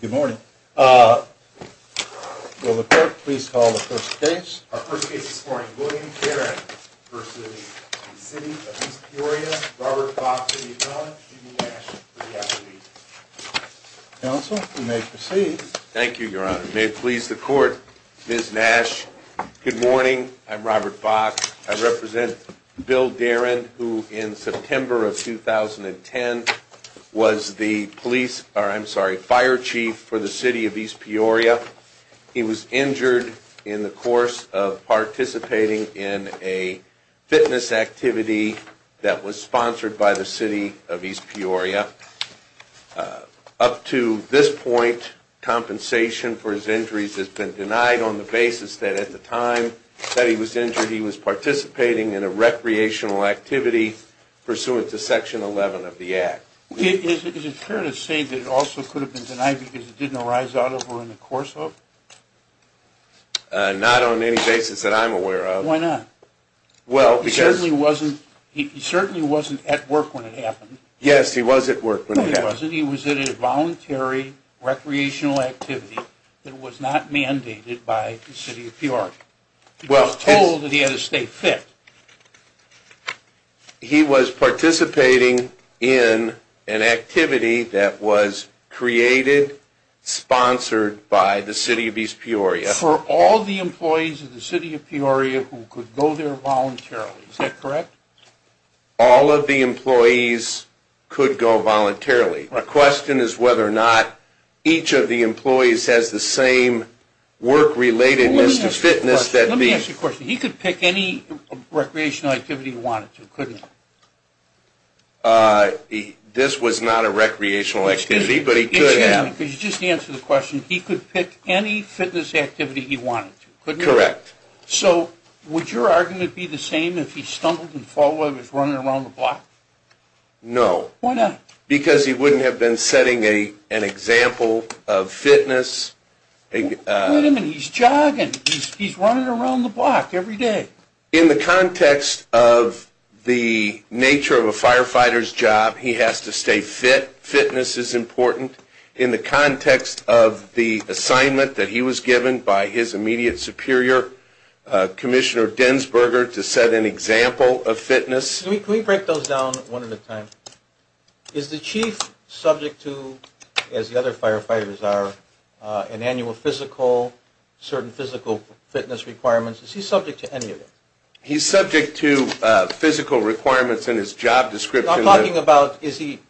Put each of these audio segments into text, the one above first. Good morning. Will the court please call the first case? Our first case this morning, William Darin v. City of East Peoria, Robert Fox v. Dunn, Judy Nash v. Applebee's. Counsel, you may proceed. Thank you, Your Honor. May it please the court, Ms. Nash, good morning. I'm Robert Fox. I represent Bill Darin, who in September of 2010 was the police, or I'm sorry, fire chief for the City of East Peoria. He was injured in the course of participating in a fitness activity that was sponsored by the City of East Peoria. Up to this point, compensation for his injuries has been denied on the basis that at the time that he was injured, he was participating in a recreational activity pursuant to Section 11 of the Act. Is it fair to say that it also could have been denied because it didn't arise out of or in the course of? Not on any basis that I'm aware of. Why not? Well, because... He certainly wasn't at work when it happened. Yes, he was at work when it happened. He wasn't. He was at a voluntary recreational activity that was not mandated by the City of Peoria. He was told that he had to stay fit. He was participating in an activity that was created, sponsored by the City of East Peoria. For all the employees of the City of Peoria who could go there voluntarily. Is that correct? All of the employees could go voluntarily. My question is whether or not each of the employees has the same work-relatedness to fitness that these... Let me ask you a question. He could pick any recreational activity he wanted to, couldn't he? This was not a recreational activity, but he could have. Just answer the question. He could pick any fitness activity he wanted to, couldn't he? Correct. So, would your argument be the same if he stumbled and fell while he was running around the block? No. Why not? Because he wouldn't have been setting an example of fitness. He's jogging. He's running around the block every day. In the context of the nature of a firefighter's job, he has to stay fit. Fitness is important. In the context of the assignment that he was given by his immediate superior, Commissioner Densberger, to set an example of fitness... Can we break those down one at a time? Is the chief subject to, as the other firefighters are, an annual physical, certain physical fitness requirements? Is he subject to any of it? He's subject to physical requirements in his job description. I'm talking about, is he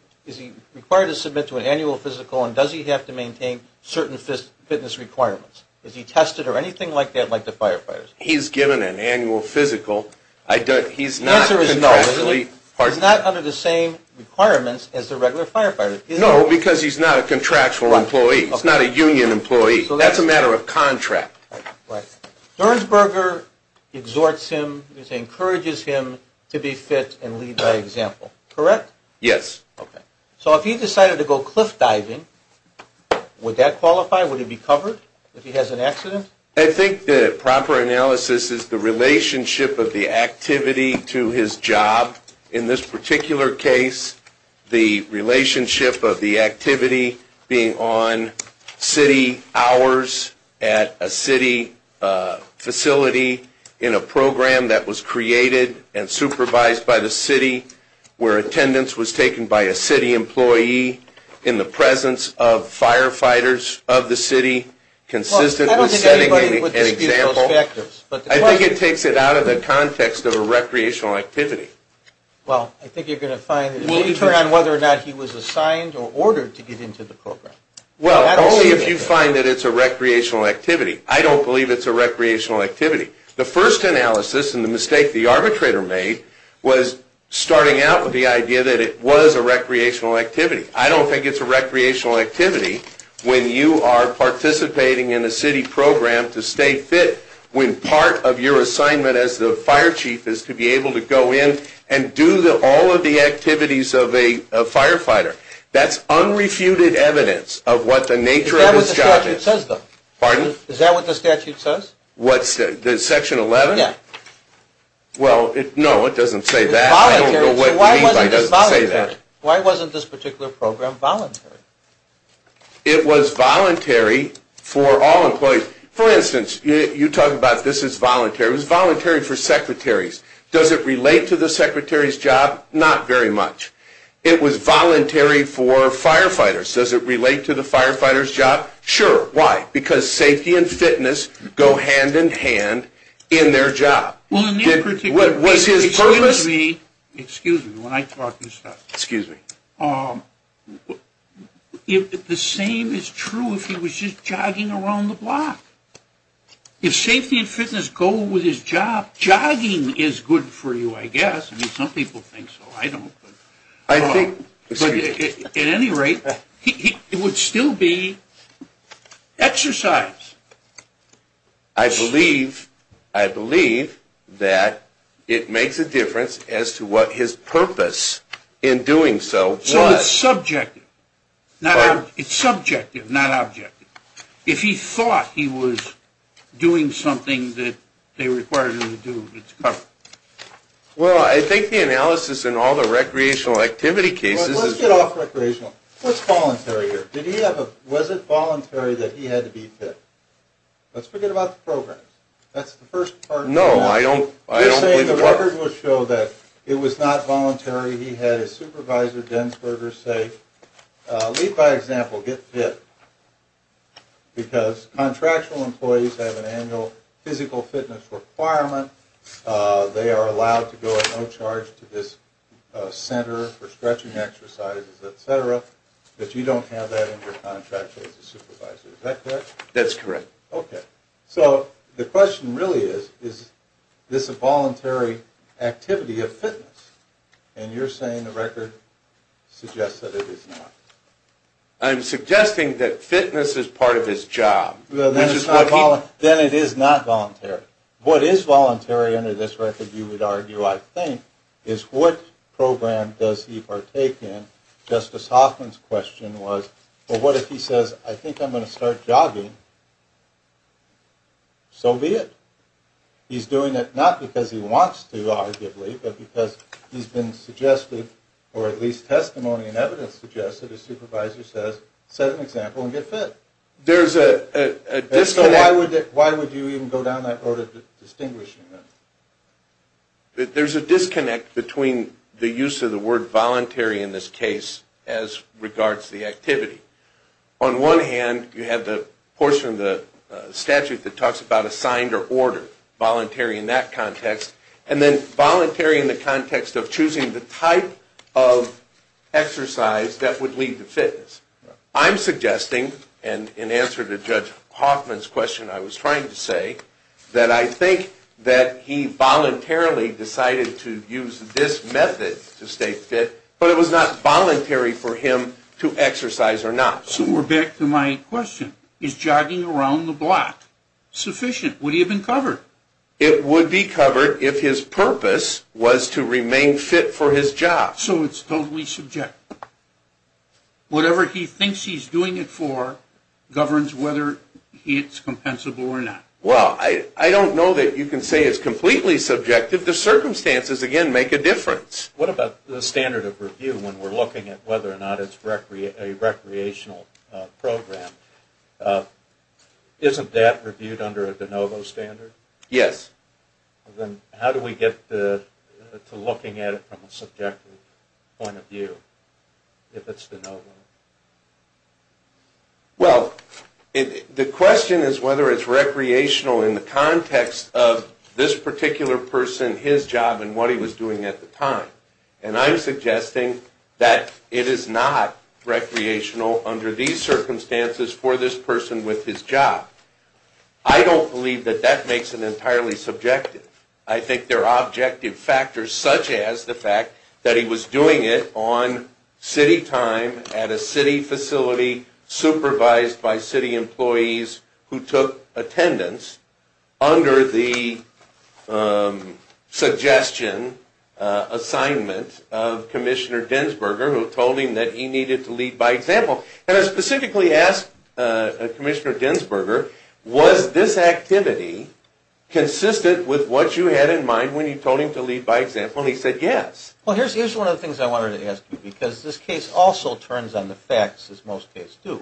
required to submit to an annual physical, and does he have to maintain certain fitness requirements? Is he tested or anything like that, like the firefighters? He's given an annual physical. He's not contractually... The answer is no. He's not under the same requirements as the regular firefighter. No, because he's not a contractual employee. He's not a union employee. That's a matter of contract. Densberger exhorts him, encourages him to be fit and lead by example. Correct? Yes. Okay. So if he decided to go cliff diving, would that qualify? Would he be covered if he has an accident? I think the proper analysis is the relationship of the activity to his job. In this particular case, the relationship of the activity being on city hours at a city facility, in a program that was created and supervised by the city, where attendance was taken by a city employee, in the presence of firefighters of the city, consistent with setting an example... Well, I don't think anybody would dispute those factors. I think it takes it out of the context of a recreational activity. Well, I think you're going to find... Will you turn on whether or not he was assigned or ordered to get into the program? Well, only if you find that it's a recreational activity. I don't believe it's a recreational activity. The first analysis and the mistake the arbitrator made was starting out with the idea that it was a recreational activity. I don't think it's a recreational activity when you are participating in a city program to stay fit, when part of your assignment as the fire chief is to be able to go in and do all of the activities of a firefighter. That's unrefuted evidence of what the nature of his job is. Is that what the statute says, though? Pardon? Is that what the statute says? What? Section 11? Yeah. Well, no, it doesn't say that. I don't know what you mean by it doesn't say that. Why wasn't this particular program voluntary? It was voluntary for all employees. For instance, you talk about this is voluntary. It was voluntary for secretaries. Does it relate to the secretary's job? Not very much. It was voluntary for firefighters. Does it relate to the firefighter's job? Sure. Why? Because safety and fitness go hand in hand in their job. Well, in this particular case... Was his purpose... Excuse me. When I talk, you stop. Excuse me. The same is true if he was just jogging around the block. If safety and fitness go with his job, jogging is good for you, I guess. I mean, some people think so. I don't. I think... At any rate, it would still be exercise. I believe that it makes a difference as to what his purpose in doing so was. So it's subjective. Pardon? It's subjective, not objective. If he thought he was doing something that they required him to do, it's covered. Well, I think the analysis in all the recreational activity cases is... Let's get off recreational. What's voluntary here? Did he have a... Was it voluntary that he had to be fit? Let's forget about the programs. That's the first part. No, I don't believe it was. Just saying the record will show that it was not voluntary. He had his supervisor, Denzberger, say, lead by example, get fit, because contractual employees have an annual physical fitness requirement. They are allowed to go at no charge to this center for stretching exercises, et cetera, but you don't have that in your contract as a supervisor. Is that correct? That's correct. Okay. So the question really is, is this a voluntary activity of fitness? And you're saying the record suggests that it is not. I'm suggesting that fitness is part of his job, which is what he... Then it is not voluntary. What is voluntary under this record, you would argue, I think, is what program does he partake in? Justice Hoffman's question was, well, what if he says, I think I'm going to start jogging? So be it. He's doing it not because he wants to, arguably, but because he's been suggested, or at least testimony and evidence suggests that his supervisor says, set an example and get fit. There's a disconnect... So why would you even go down that road of distinguishing them? There's a disconnect between the use of the word voluntary in this case as regards to the activity. On one hand, you have the portion of the statute that talks about assigned or ordered, voluntary in that context, and then voluntary in the context of choosing the type of exercise that would lead to fitness. I'm suggesting, and in answer to Judge Hoffman's question I was trying to say, that I think that he voluntarily decided to use this method to stay fit, but it was not voluntary for him to exercise or not. So we're back to my question. Is jogging around the block sufficient? Would he have been covered? It would be covered if his purpose was to remain fit for his job. So it's totally subjective. Whatever he thinks he's doing it for governs whether it's compensable or not. Well, I don't know that you can say it's completely subjective. The circumstances, again, make a difference. What about the standard of review when we're looking at whether or not it's a recreational program? Isn't that reviewed under a de novo standard? Yes. Then how do we get to looking at it from a subjective point of view if it's de novo? Well, the question is whether it's recreational in the context of this particular person, his job, and what he was doing at the time. And I'm suggesting that it is not recreational under these circumstances for this person with his job. I don't believe that that makes it entirely subjective. I think there are objective factors such as the fact that he was doing it on city time at a city facility, supervised by city employees who took attendance under the suggestion assignment of Commissioner Dinsburger who told him that he needed to lead by example. And I specifically asked Commissioner Dinsburger, was this activity consistent with what you had in mind when you told him to lead by example? And he said yes. Well, here's one of the things I wanted to ask you because this case also turns on the facts, as most cases do.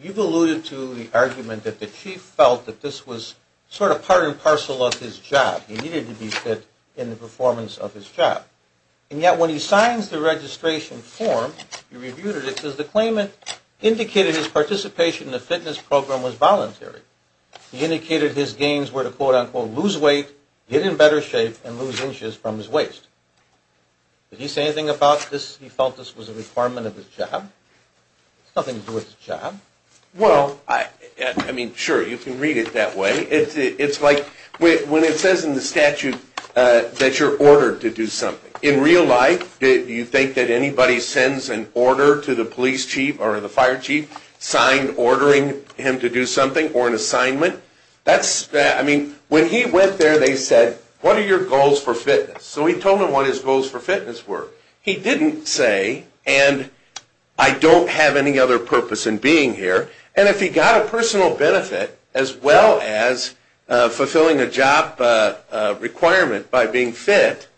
You've alluded to the argument that the chief felt that this was sort of part and parcel of his job. He needed to be fit in the performance of his job. And yet when he signs the registration form, he reviewed it, it says the claimant indicated his participation in the fitness program was voluntary. He indicated his gains were to, quote, unquote, lose weight, get in better shape, and lose inches from his waist. Did he say anything about this? He felt this was a requirement of his job? It has nothing to do with his job. Well, I mean, sure, you can read it that way. It's like when it says in the statute that you're ordered to do something. In real life, do you think that anybody sends an order to the police chief or the fire chief, signed ordering him to do something or an assignment? I mean, when he went there, they said, what are your goals for fitness? So he told them what his goals for fitness were. He didn't say, and I don't have any other purpose in being here. And if he got a personal benefit as well as fulfilling a job requirement by being fit,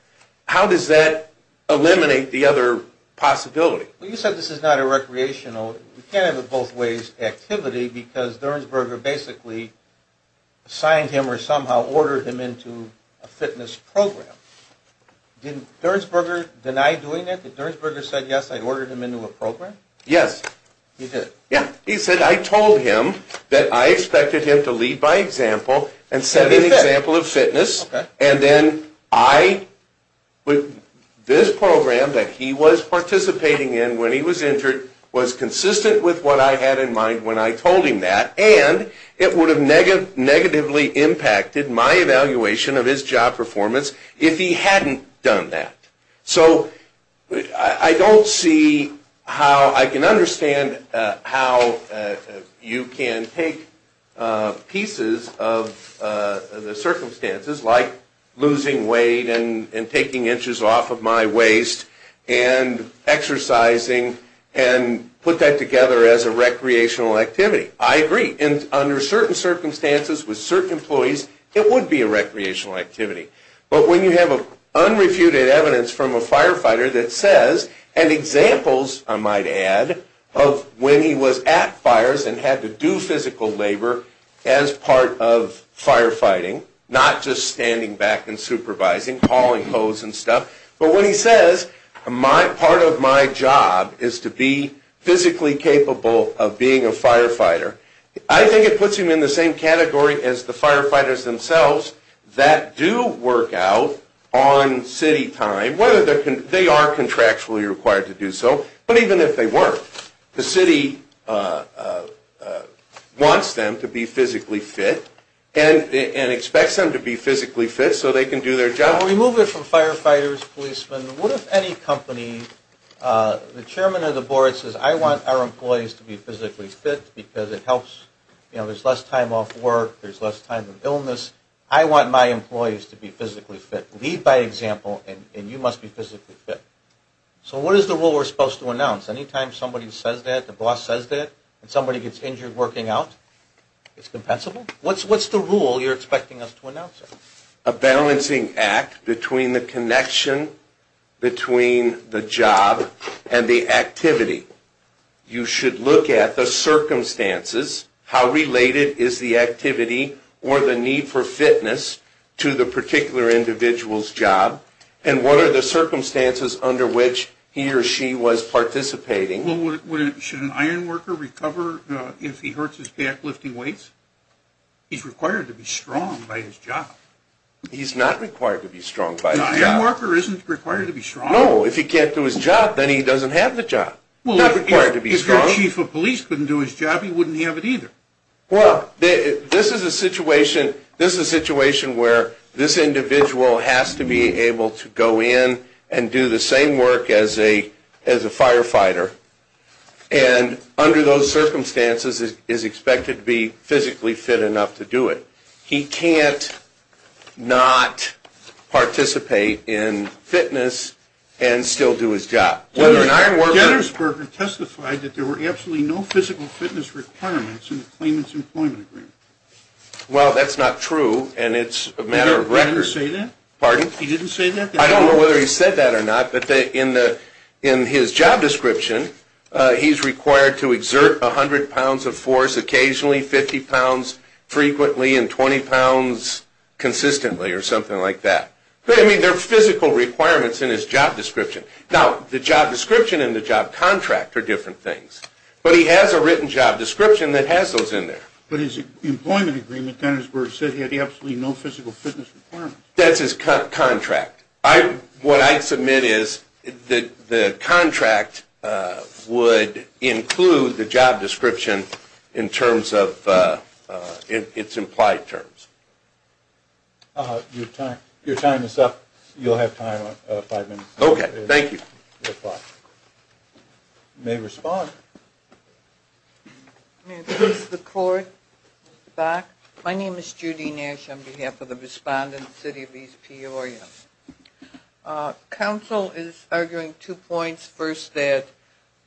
how does that eliminate the other possibility? Well, you said this is not a recreational. You can't have a both ways activity because Durnsberger basically signed him or somehow ordered him into a fitness program. Did Durnsberger deny doing it? Did Durnsberger say, yes, I ordered him into a program? Yes. He did? Yeah. He said, I told him that I expected him to lead by example and set an example of fitness. And then I, with this program that he was participating in when he was injured, was consistent with what I had in mind when I told him that. And it would have negatively impacted my evaluation of his job performance if he hadn't done that. So I don't see how I can understand how you can take pieces of the circumstances like losing weight and taking inches off of my waist and exercising and put that together as a recreational activity. I agree. Under certain circumstances with certain employees, it would be a recreational activity. But when you have unrefuted evidence from a firefighter that says, and examples I might add of when he was at fires and had to do physical labor as part of firefighting, not just standing back and supervising, calling hoes and stuff. But when he says, part of my job is to be physically capable of being a firefighter, I think it puts him in the same category as the firefighters themselves that do work out on city time, whether they are contractually required to do so, but even if they weren't. The city wants them to be physically fit and expects them to be physically fit so they can do their job. Removing from firefighters, policemen, what if any company, the chairman of the board says, I want our employees to be physically fit because it helps, you know, there's less time off work, there's less time of illness. I want my employees to be physically fit. Lead by example and you must be physically fit. So what is the rule we're supposed to announce? Anytime somebody says that, the boss says that, and somebody gets injured working out, it's compensable? What's the rule you're expecting us to announce? A balancing act between the connection between the job and the activity. You should look at the circumstances, how related is the activity or the need for fitness to the particular individual's job, and what are the circumstances under which he or she was participating. Should an iron worker recover if he hurts his back lifting weights? He's required to be strong by his job. He's not required to be strong by his job. An iron worker isn't required to be strong. No, if he can't do his job, then he doesn't have the job. If the chief of police couldn't do his job, he wouldn't have it either. Well, this is a situation where this individual has to be able to go in and do the same work as a firefighter, and under those circumstances is expected to be physically fit enough to do it. He can't not participate in fitness and still do his job. Dennis Berger testified that there were absolutely no physical fitness requirements in the claimant's employment agreement. Well, that's not true, and it's a matter of record. He didn't say that? Pardon? He didn't say that? I don't know whether he said that or not, but in his job description, he's required to exert 100 pounds of force occasionally, 50 pounds frequently, and 20 pounds consistently or something like that. I mean, there are physical requirements in his job description. Now, the job description and the job contract are different things, but he has a written job description that has those in there. But his employment agreement, Dennis Berger, said he had absolutely no physical fitness requirements. That's his contract. What I'd submit is the contract would include the job description in terms of its implied terms. Your time is up. You'll have time, five minutes. Okay, thank you. You may respond. May I please have the floor back? My name is Judy Nash on behalf of the respondent, City of East Peoria. Council is arguing two points. First, that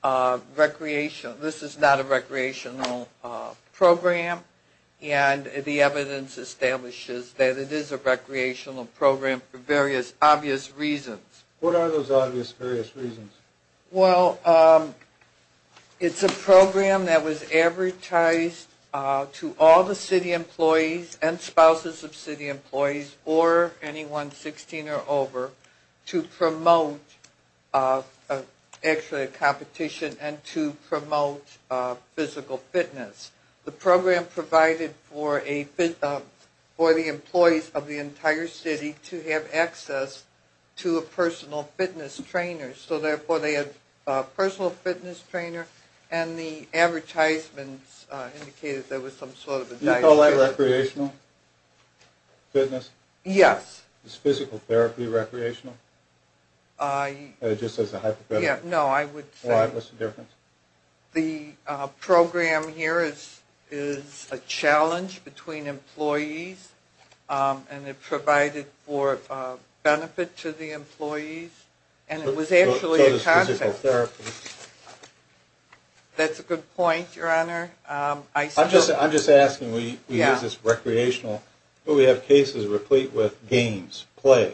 this is not a recreational program, and the evidence establishes that it is a recreational program for various obvious reasons. What are those obvious various reasons? Well, it's a program that was advertised to all the city employees and spouses of city employees, or anyone 16 or over, to promote actually a competition and to promote physical fitness. The program provided for the employees of the entire city to have access to a personal fitness trainer. So, therefore, they had a personal fitness trainer, and the advertisements indicated there was some sort of a diet. Do you call that recreational fitness? Yes. Is physical therapy recreational? Just as a hypothetical? Yeah, no, I would say. Why? What's the difference? The program here is a challenge between employees, and it provided for benefit to the employees, and it was actually a concept. So is physical therapy. That's a good point, Your Honor. I'm just asking. We use this recreational, but we have cases replete with games, play.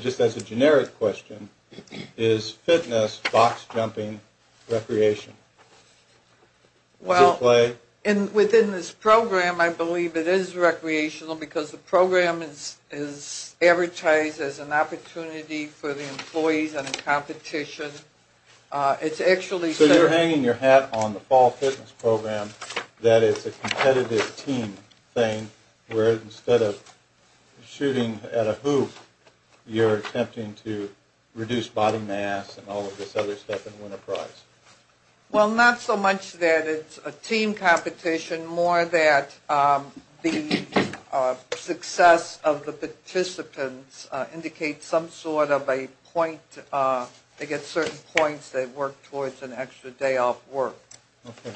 Just as a generic question, is fitness box jumping recreation? Well, within this program, I believe it is recreational because the program is advertised as an opportunity for the employees and a competition. So you're hanging your hat on the fall fitness program that it's a competitive team thing, where instead of shooting at a hoop, you're attempting to reduce body mass and all of this other stuff and win a prize. Well, not so much that it's a team competition, more that the success of the participants indicates some sort of a point. They get certain points. They work towards an extra day off work. Okay.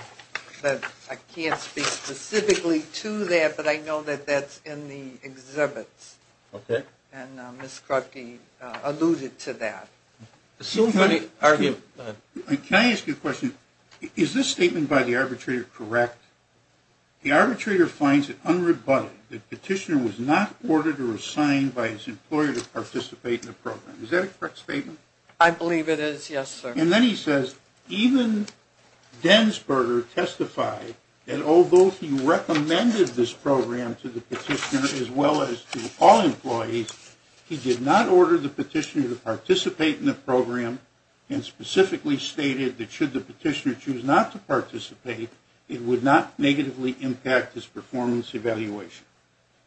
I can't speak specifically to that, but I know that that's in the exhibits. Okay. And Ms. Krupke alluded to that. Can I ask you a question? Is this statement by the arbitrator correct? The arbitrator finds it unrebutted that the petitioner was not ordered or assigned by his employer to participate in the program. Is that a correct statement? I believe it is, yes, sir. And then he says, even Densberger testified that although he recommended this program to the petitioner as well as to all employees, he did not order the petitioner to participate in the program and specifically stated that should the petitioner choose not to participate, it would not negatively impact his performance evaluation.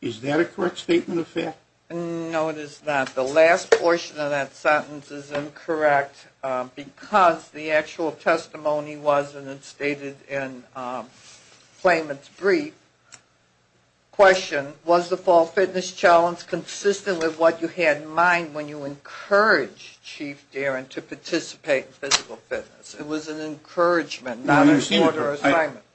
Is that a correct statement of fact? No, it is not. The last portion of that sentence is incorrect because the actual testimony wasn't stated in Clayman's brief. Question. Was the fall fitness challenge consistent with what you had in mind when you encouraged Chief Darin to participate in physical fitness? It was an encouragement, not an order assignment.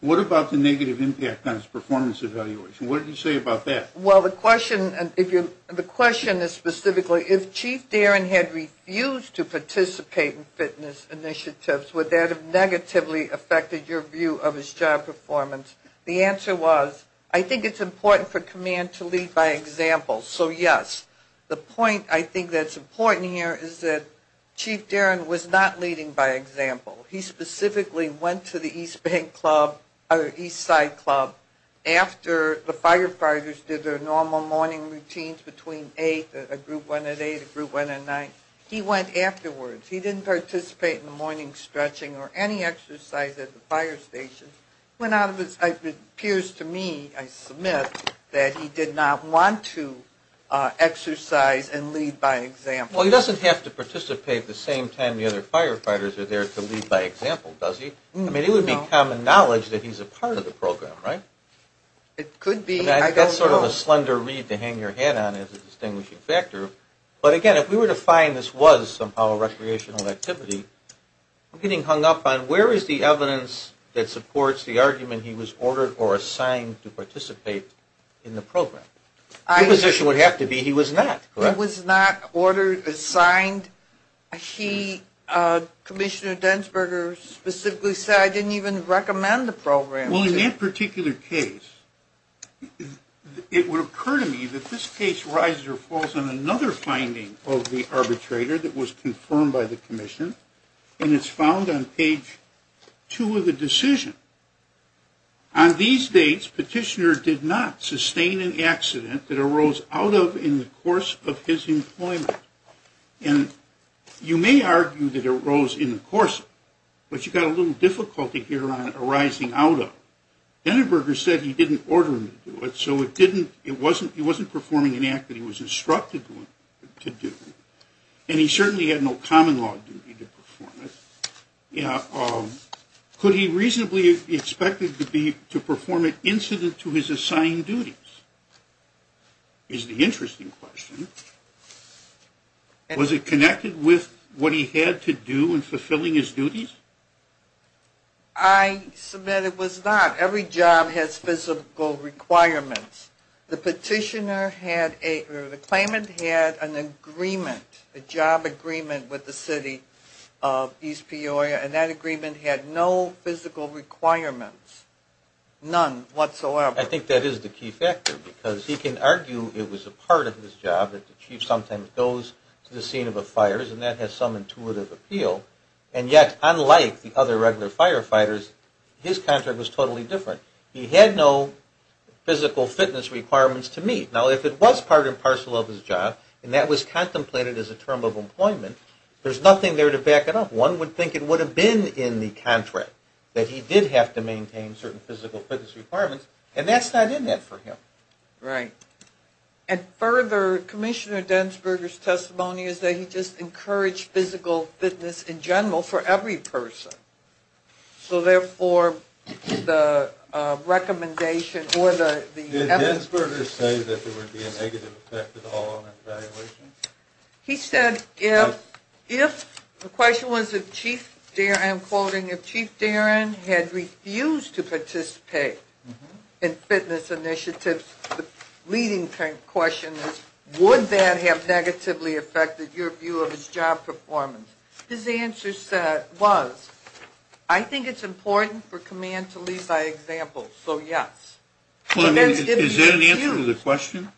What about the negative impact on his performance evaluation? What did you say about that? Well, the question is specifically, if Chief Darin had refused to participate in fitness initiatives, would that have negatively affected your view of his job performance? The answer was, I think it's important for command to lead by example. So, yes. The point I think that's important here is that Chief Darin was not leading by example. He specifically went to the East Side Club after the firefighters did their normal morning routines between 8, a group one at 8, a group one at 9. He went afterwards. He didn't participate in the morning stretching or any exercise at the fire station. It appears to me, I submit, that he did not want to exercise and lead by example. Well, he doesn't have to participate the same time the other firefighters are there to lead by example, does he? No. I mean, it would be common knowledge that he's a part of the program, right? It could be. That's sort of a slender read to hang your hat on as a distinguishing factor. But again, if we were to find this was somehow a recreational activity, I'm getting hung up on where is the evidence that supports the argument he was ordered or assigned to participate in the program? His position would have to be he was not, correct? He was not ordered, assigned. He, Commissioner Densberger, specifically said, I didn't even recommend the program. Well, in that particular case, it would occur to me that this case rises or falls on another finding of the arbitrator that was confirmed by the commission, and it's found on page 2 of the decision. On these dates, Petitioner did not sustain an accident that arose out of in the course of his employment. And you may argue that it arose in the course of it, but you've got a little difficulty here on arising out of it. Densberger said he didn't order him to do it, so he wasn't performing an act that he was instructed to do. And he certainly had no common law duty to perform it. Could he reasonably be expected to perform an incident to his assigned duties? Here's the interesting question. Was it connected with what he had to do in fulfilling his duties? I submit it was not. Every job has physical requirements. The Petitioner had a, or the claimant had an agreement, a job agreement with the City of East Peoria, and that agreement had no physical requirements. None whatsoever. I think that is the key factor, because he can argue it was a part of his job that the chief sometimes goes to the scene of a fire, and that has some intuitive appeal. And yet, unlike the other regular firefighters, his contract was totally different. He had no physical fitness requirements to meet. Now, if it was part and parcel of his job, and that was contemplated as a term of employment, there's nothing there to back it up. One would think it would have been in the contract that he did have to maintain certain physical fitness requirements, and that's not in there for him. Right. And further, Commissioner Densberger's testimony is that he just encouraged physical fitness in general for every person. So therefore, the recommendation or the evidence... Did Densberger say that there would be a negative effect at all on his evaluation? He said if... The question was if Chief... I'm quoting... If Chief Darin had refused to participate in fitness initiatives, the leading question is, would that have negatively affected your view of his job performance? His answer was, I think it's important for command to lead by example, so yes. Is that an answer to the question?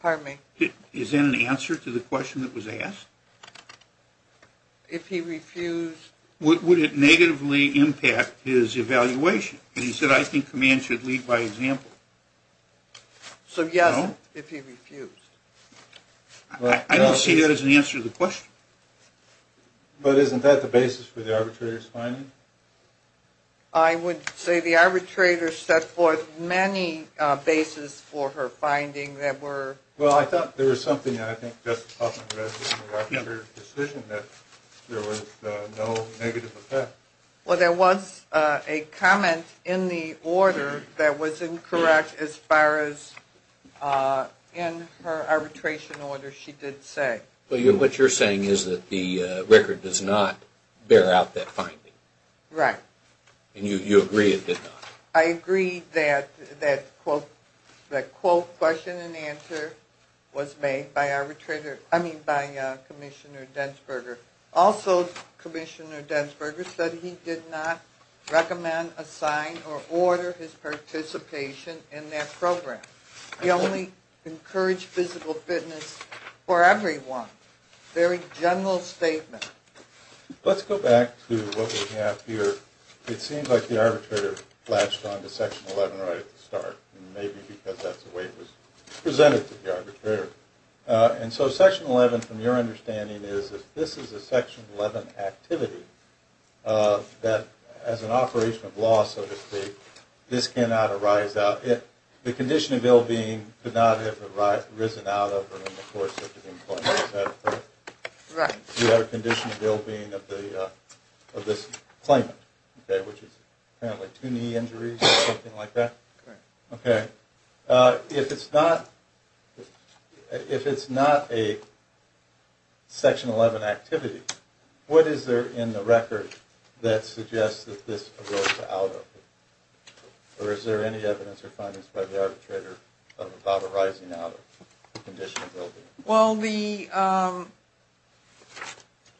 Pardon me? Is that an answer to the question that was asked? If he refused... Would it negatively impact his evaluation? He said, I think command should lead by example. So yes, if he refused. I don't see that as an answer to the question. But isn't that the basis for the arbitrator's finding? I would say the arbitrator set forth many bases for her finding that were... Well, I thought there was something that I think Justice Hoffman read in the arbitrator's decision that there was no negative effect. Well, there was a comment in the order that was incorrect as far as in her arbitration order she did say. Well, what you're saying is that the record does not bear out that finding. Right. And you agree it did not. I agree that the quote, question, and answer was made by our arbitrator, I mean by Commissioner Dentzberger. Also, Commissioner Dentzberger said he did not recommend, assign, or order his participation in that program. He only encouraged physical fitness for everyone. Very general statement. Let's go back to what we have here. It seems like the arbitrator latched onto Section 11 right at the start. Maybe because that's the way it was presented to the arbitrator. And so Section 11, from your understanding, is that this is a Section 11 activity that as an operation of law, so to speak, this cannot arise out. The condition of ill-being could not have arisen out of it in the course of the employment. Right. You have a condition of ill-being of this claimant, which is apparently two knee injuries or something like that. Correct. Okay. If it's not a Section 11 activity, what is there in the record that suggests that this arose out of it? Or is there any evidence or findings by the arbitrator about arising out of the condition of ill-being? Well, the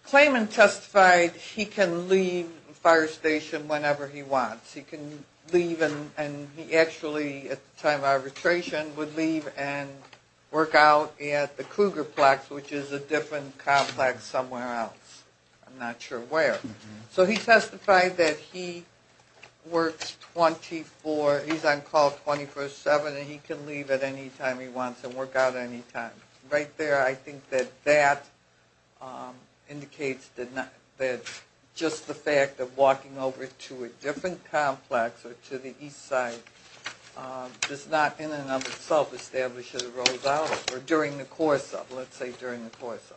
claimant testified he can leave the fire station whenever he wants. He can leave and he actually, at the time of arbitration, would leave and work out at the Krugerplex, which is a different complex somewhere else. I'm not sure where. So he testified that he works 24 – he's on call 24-7 and he can leave at any time he wants and work out any time. Right there, I think that that indicates that just the fact of walking over to a different complex or to the east side does not in and of itself establish that it arose out of it or during the course of it, let's say during the course of it.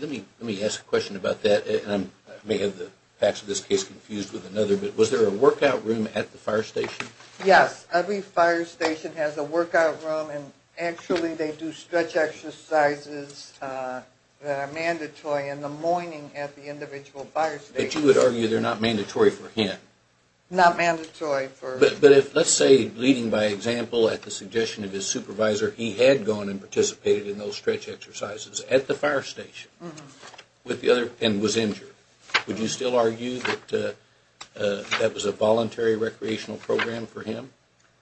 Let me ask a question about that. I may have the facts of this case confused with another, but was there a workout room at the fire station? Yes. Every fire station has a workout room and actually they do stretch exercises that are mandatory in the morning at the individual fire station. But you would argue they're not mandatory for him? Not mandatory for him. But if, let's say, leading by example at the suggestion of his supervisor, he had gone and participated in those stretch exercises at the fire station and was injured, would you still argue that that was a voluntary recreational program for him?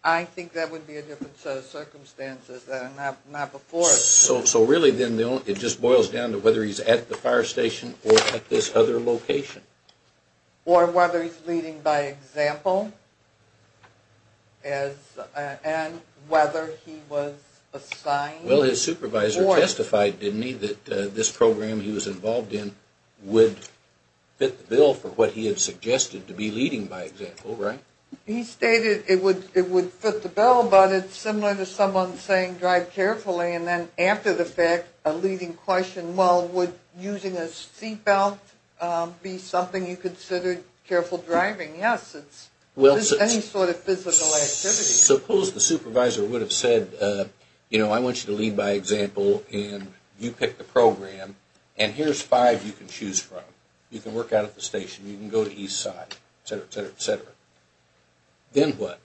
I think that would be a different set of circumstances than not before. So really then it just boils down to whether he's at the fire station or at this other location? Or whether he's leading by example and whether he was assigned… Well, his supervisor testified, didn't he, that this program he was involved in would fit the bill for what he had suggested to be leading by example, right? He stated it would fit the bill, but it's similar to someone saying drive carefully and then after the fact a leading question, well, would using a seat belt be something you considered careful driving? Yes. It's any sort of physical activity. Suppose the supervisor would have said, you know, I want you to lead by example and you pick the program and here's five you can choose from. You can work out at the station, you can go to Eastside, etc., etc., etc. Then what?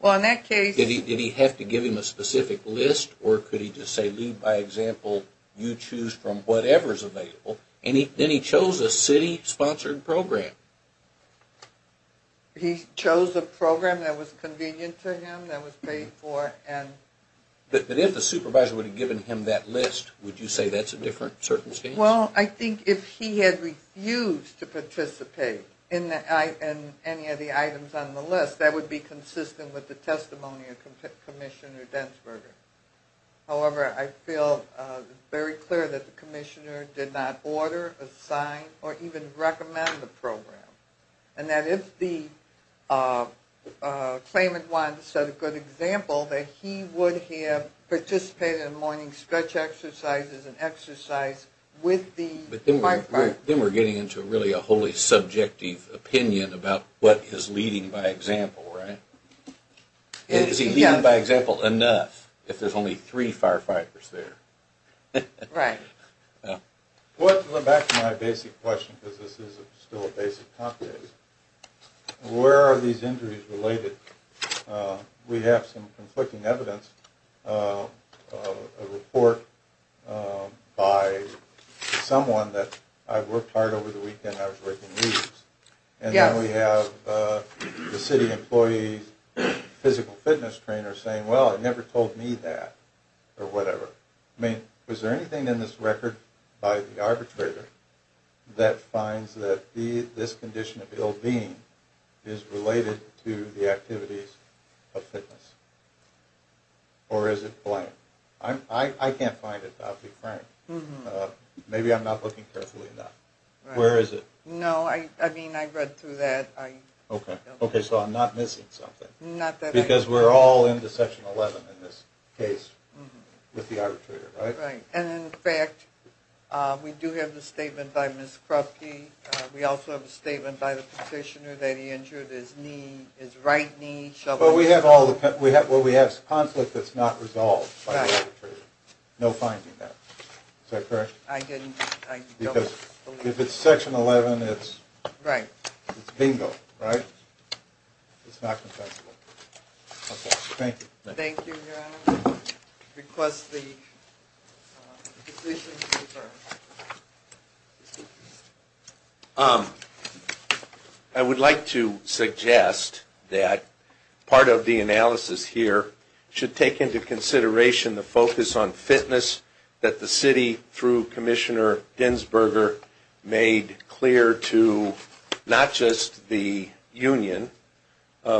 Well, in that case… Did he have to give him a specific list or could he just say lead by example, you choose from whatever's available? Then he chose a city-sponsored program. He chose a program that was convenient to him, that was paid for and… But if the supervisor would have given him that list, would you say that's a different circumstance? Well, I think if he had refused to participate in any of the items on the list, that would be consistent with the testimony of Commissioner Dentzberger. However, I feel very clear that the commissioner did not order, assign, or even recommend the program. And that if the claimant wanted to set a good example, that he would have participated in morning stretch exercises and exercise with the… But then we're getting into really a wholly subjective opinion about what is leading by example, right? Yes. It's leading by example enough if there's only three firefighters there. Right. Well, to go back to my basic question, because this is still a basic topic, where are these injuries related? We have some conflicting evidence, a report by someone that I worked hard over the weekend, I was working meetings. And then we have the city employee physical fitness trainer saying, well, it never told me that, or whatever. I mean, was there anything in this record by the arbitrator that finds that this condition of ill-being is related to the activities of fitness? Or is it blank? I can't find it, I'll be frank. Maybe I'm not looking carefully enough. Where is it? No, I mean, I read through that. Okay. Okay, so I'm not missing something. Not that I… Because we're all into Section 11 in this case with the arbitrator, right? Right. And in fact, we do have the statement by Ms. Krupke. We also have a statement by the petitioner that he injured his knee, his right knee. Well, we have conflict that's not resolved by the arbitrator. Right. No finding that. Is that correct? I didn't… Because if it's Section 11, it's… Right. It's bingo, right? It's not confessible. Okay, thank you. Thank you, Your Honor. Request the position to be referred. I would like to suggest that part of the analysis here should take into consideration the focus on fitness that the city, through Commissioner Dinsburger, made clear to not just the union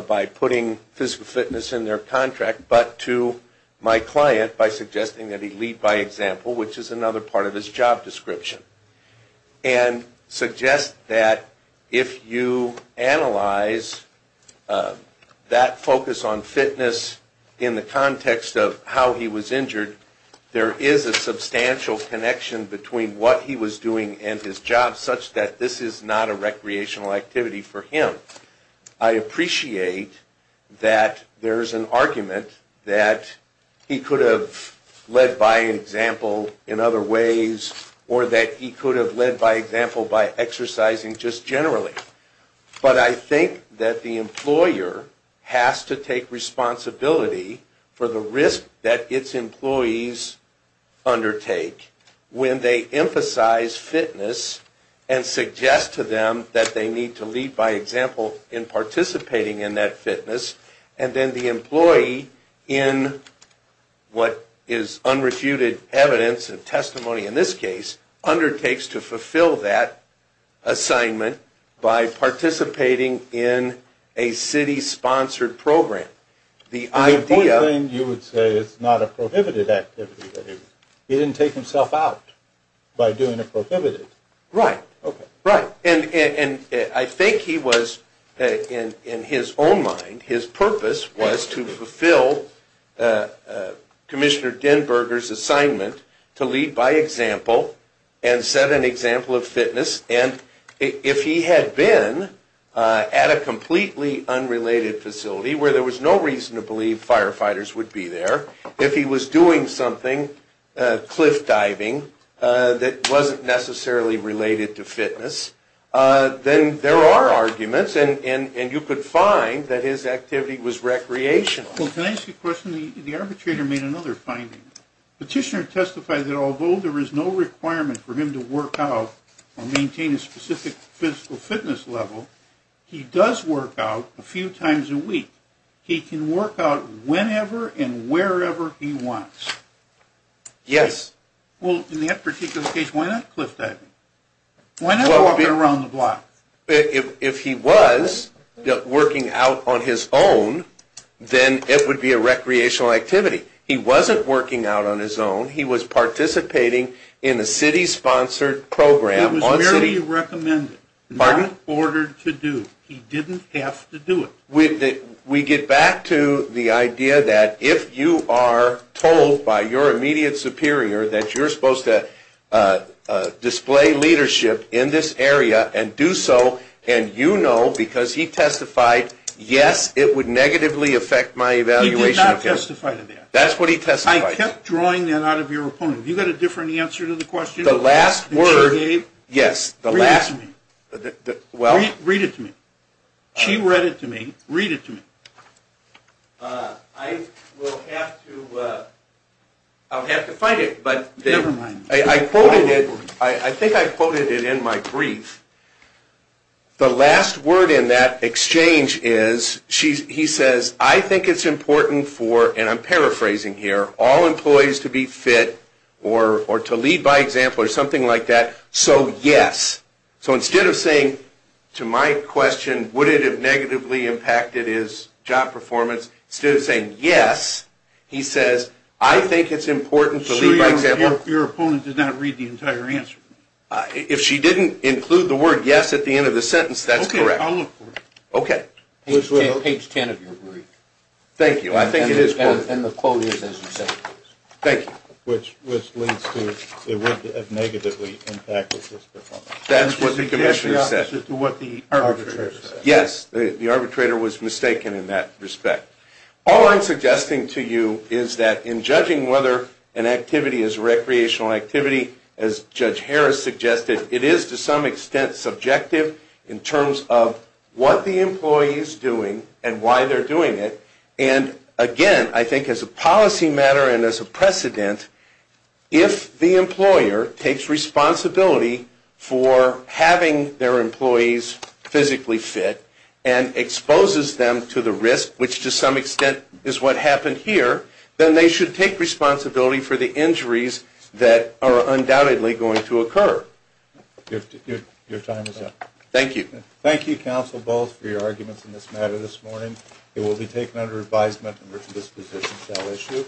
by putting physical fitness in their contract, but to my client by suggesting that he lead by example, which is another part of his job description. And suggest that if you analyze that focus on fitness in the context of how he was injured, there is a substantial connection between what he was doing and his job, such that this is not a recreational activity for him. I appreciate that there's an argument that he could have led by example in other ways, or that he could have led by example by exercising just generally. But I think that the employer has to take responsibility for the risk that its employees undertake when they emphasize fitness and suggest to them that they need to lead by example in participating in that fitness. And then the employee, in what is unrefuted evidence and testimony in this case, undertakes to fulfill that assignment by participating in a city-sponsored program. The important thing you would say is it's not a prohibited activity. He didn't take himself out by doing a prohibited. Right. Right. And I think he was, in his own mind, his purpose was to fulfill Commissioner Dinsburger's assignment to lead by example and set an example of fitness. And if he had been at a completely unrelated facility where there was no reason to believe firefighters would be there, if he was doing something, cliff diving, that wasn't necessarily related to fitness, then there are arguments, and you could find that his activity was recreational. Well, can I ask you a question? The arbitrator made another finding. Petitioner testified that although there is no requirement for him to work out or maintain a specific physical fitness level, he does work out a few times a week. He can work out whenever and wherever he wants. Yes. Well, in that particular case, why not cliff diving? Why not walk around the block? If he was working out on his own, then it would be a recreational activity. He wasn't working out on his own. He was participating in a city-sponsored program. He was very recommended. Pardon? Not ordered to do. He didn't have to do it. We get back to the idea that if you are told by your immediate superior that you're supposed to display leadership in this area and do so, and you know because he testified, yes, it would negatively affect my evaluation. He did not testify to that. That's what he testified to. I kept drawing that out of your opponent. Have you got a different answer to the question that she gave? The last word, yes. Read it to me. Well? Read it to me. She read it to me. Read it to me. I will have to find it. Never mind. I think I quoted it in my brief. The last word in that exchange is, he says, I think it's important for, and I'm paraphrasing here, all employees to be fit or to lead by example or something like that, so yes. So instead of saying to my question, would it have negatively impacted his job performance, instead of saying yes, he says, I think it's important to lead by example. So your opponent did not read the entire answer? If she didn't include the word yes at the end of the sentence, that's correct. Okay. I'll look for it. Okay. Page 10 of your brief. Thank you. I think it is quoted. And the quote is as you said it is. Thank you. Which leads to it would have negatively impacted his performance. That's what the commission said. It's the opposite to what the arbitrator said. Yes. The arbitrator was mistaken in that respect. All I'm suggesting to you is that in judging whether an activity is a recreational activity, as Judge Harris suggested, it is to some extent subjective in terms of what the employee is doing and why they're doing it. And again, I think as a policy matter and as a precedent, if the employer takes responsibility for having their employees physically fit and exposes them to the risk, which to some extent is what happened here, then they should take responsibility for the injuries that are undoubtedly going to occur. Your time is up. Thank you. Thank you, counsel, both, for your arguments in this matter this morning. It will be taken under advisement and written disposition. That'll issue.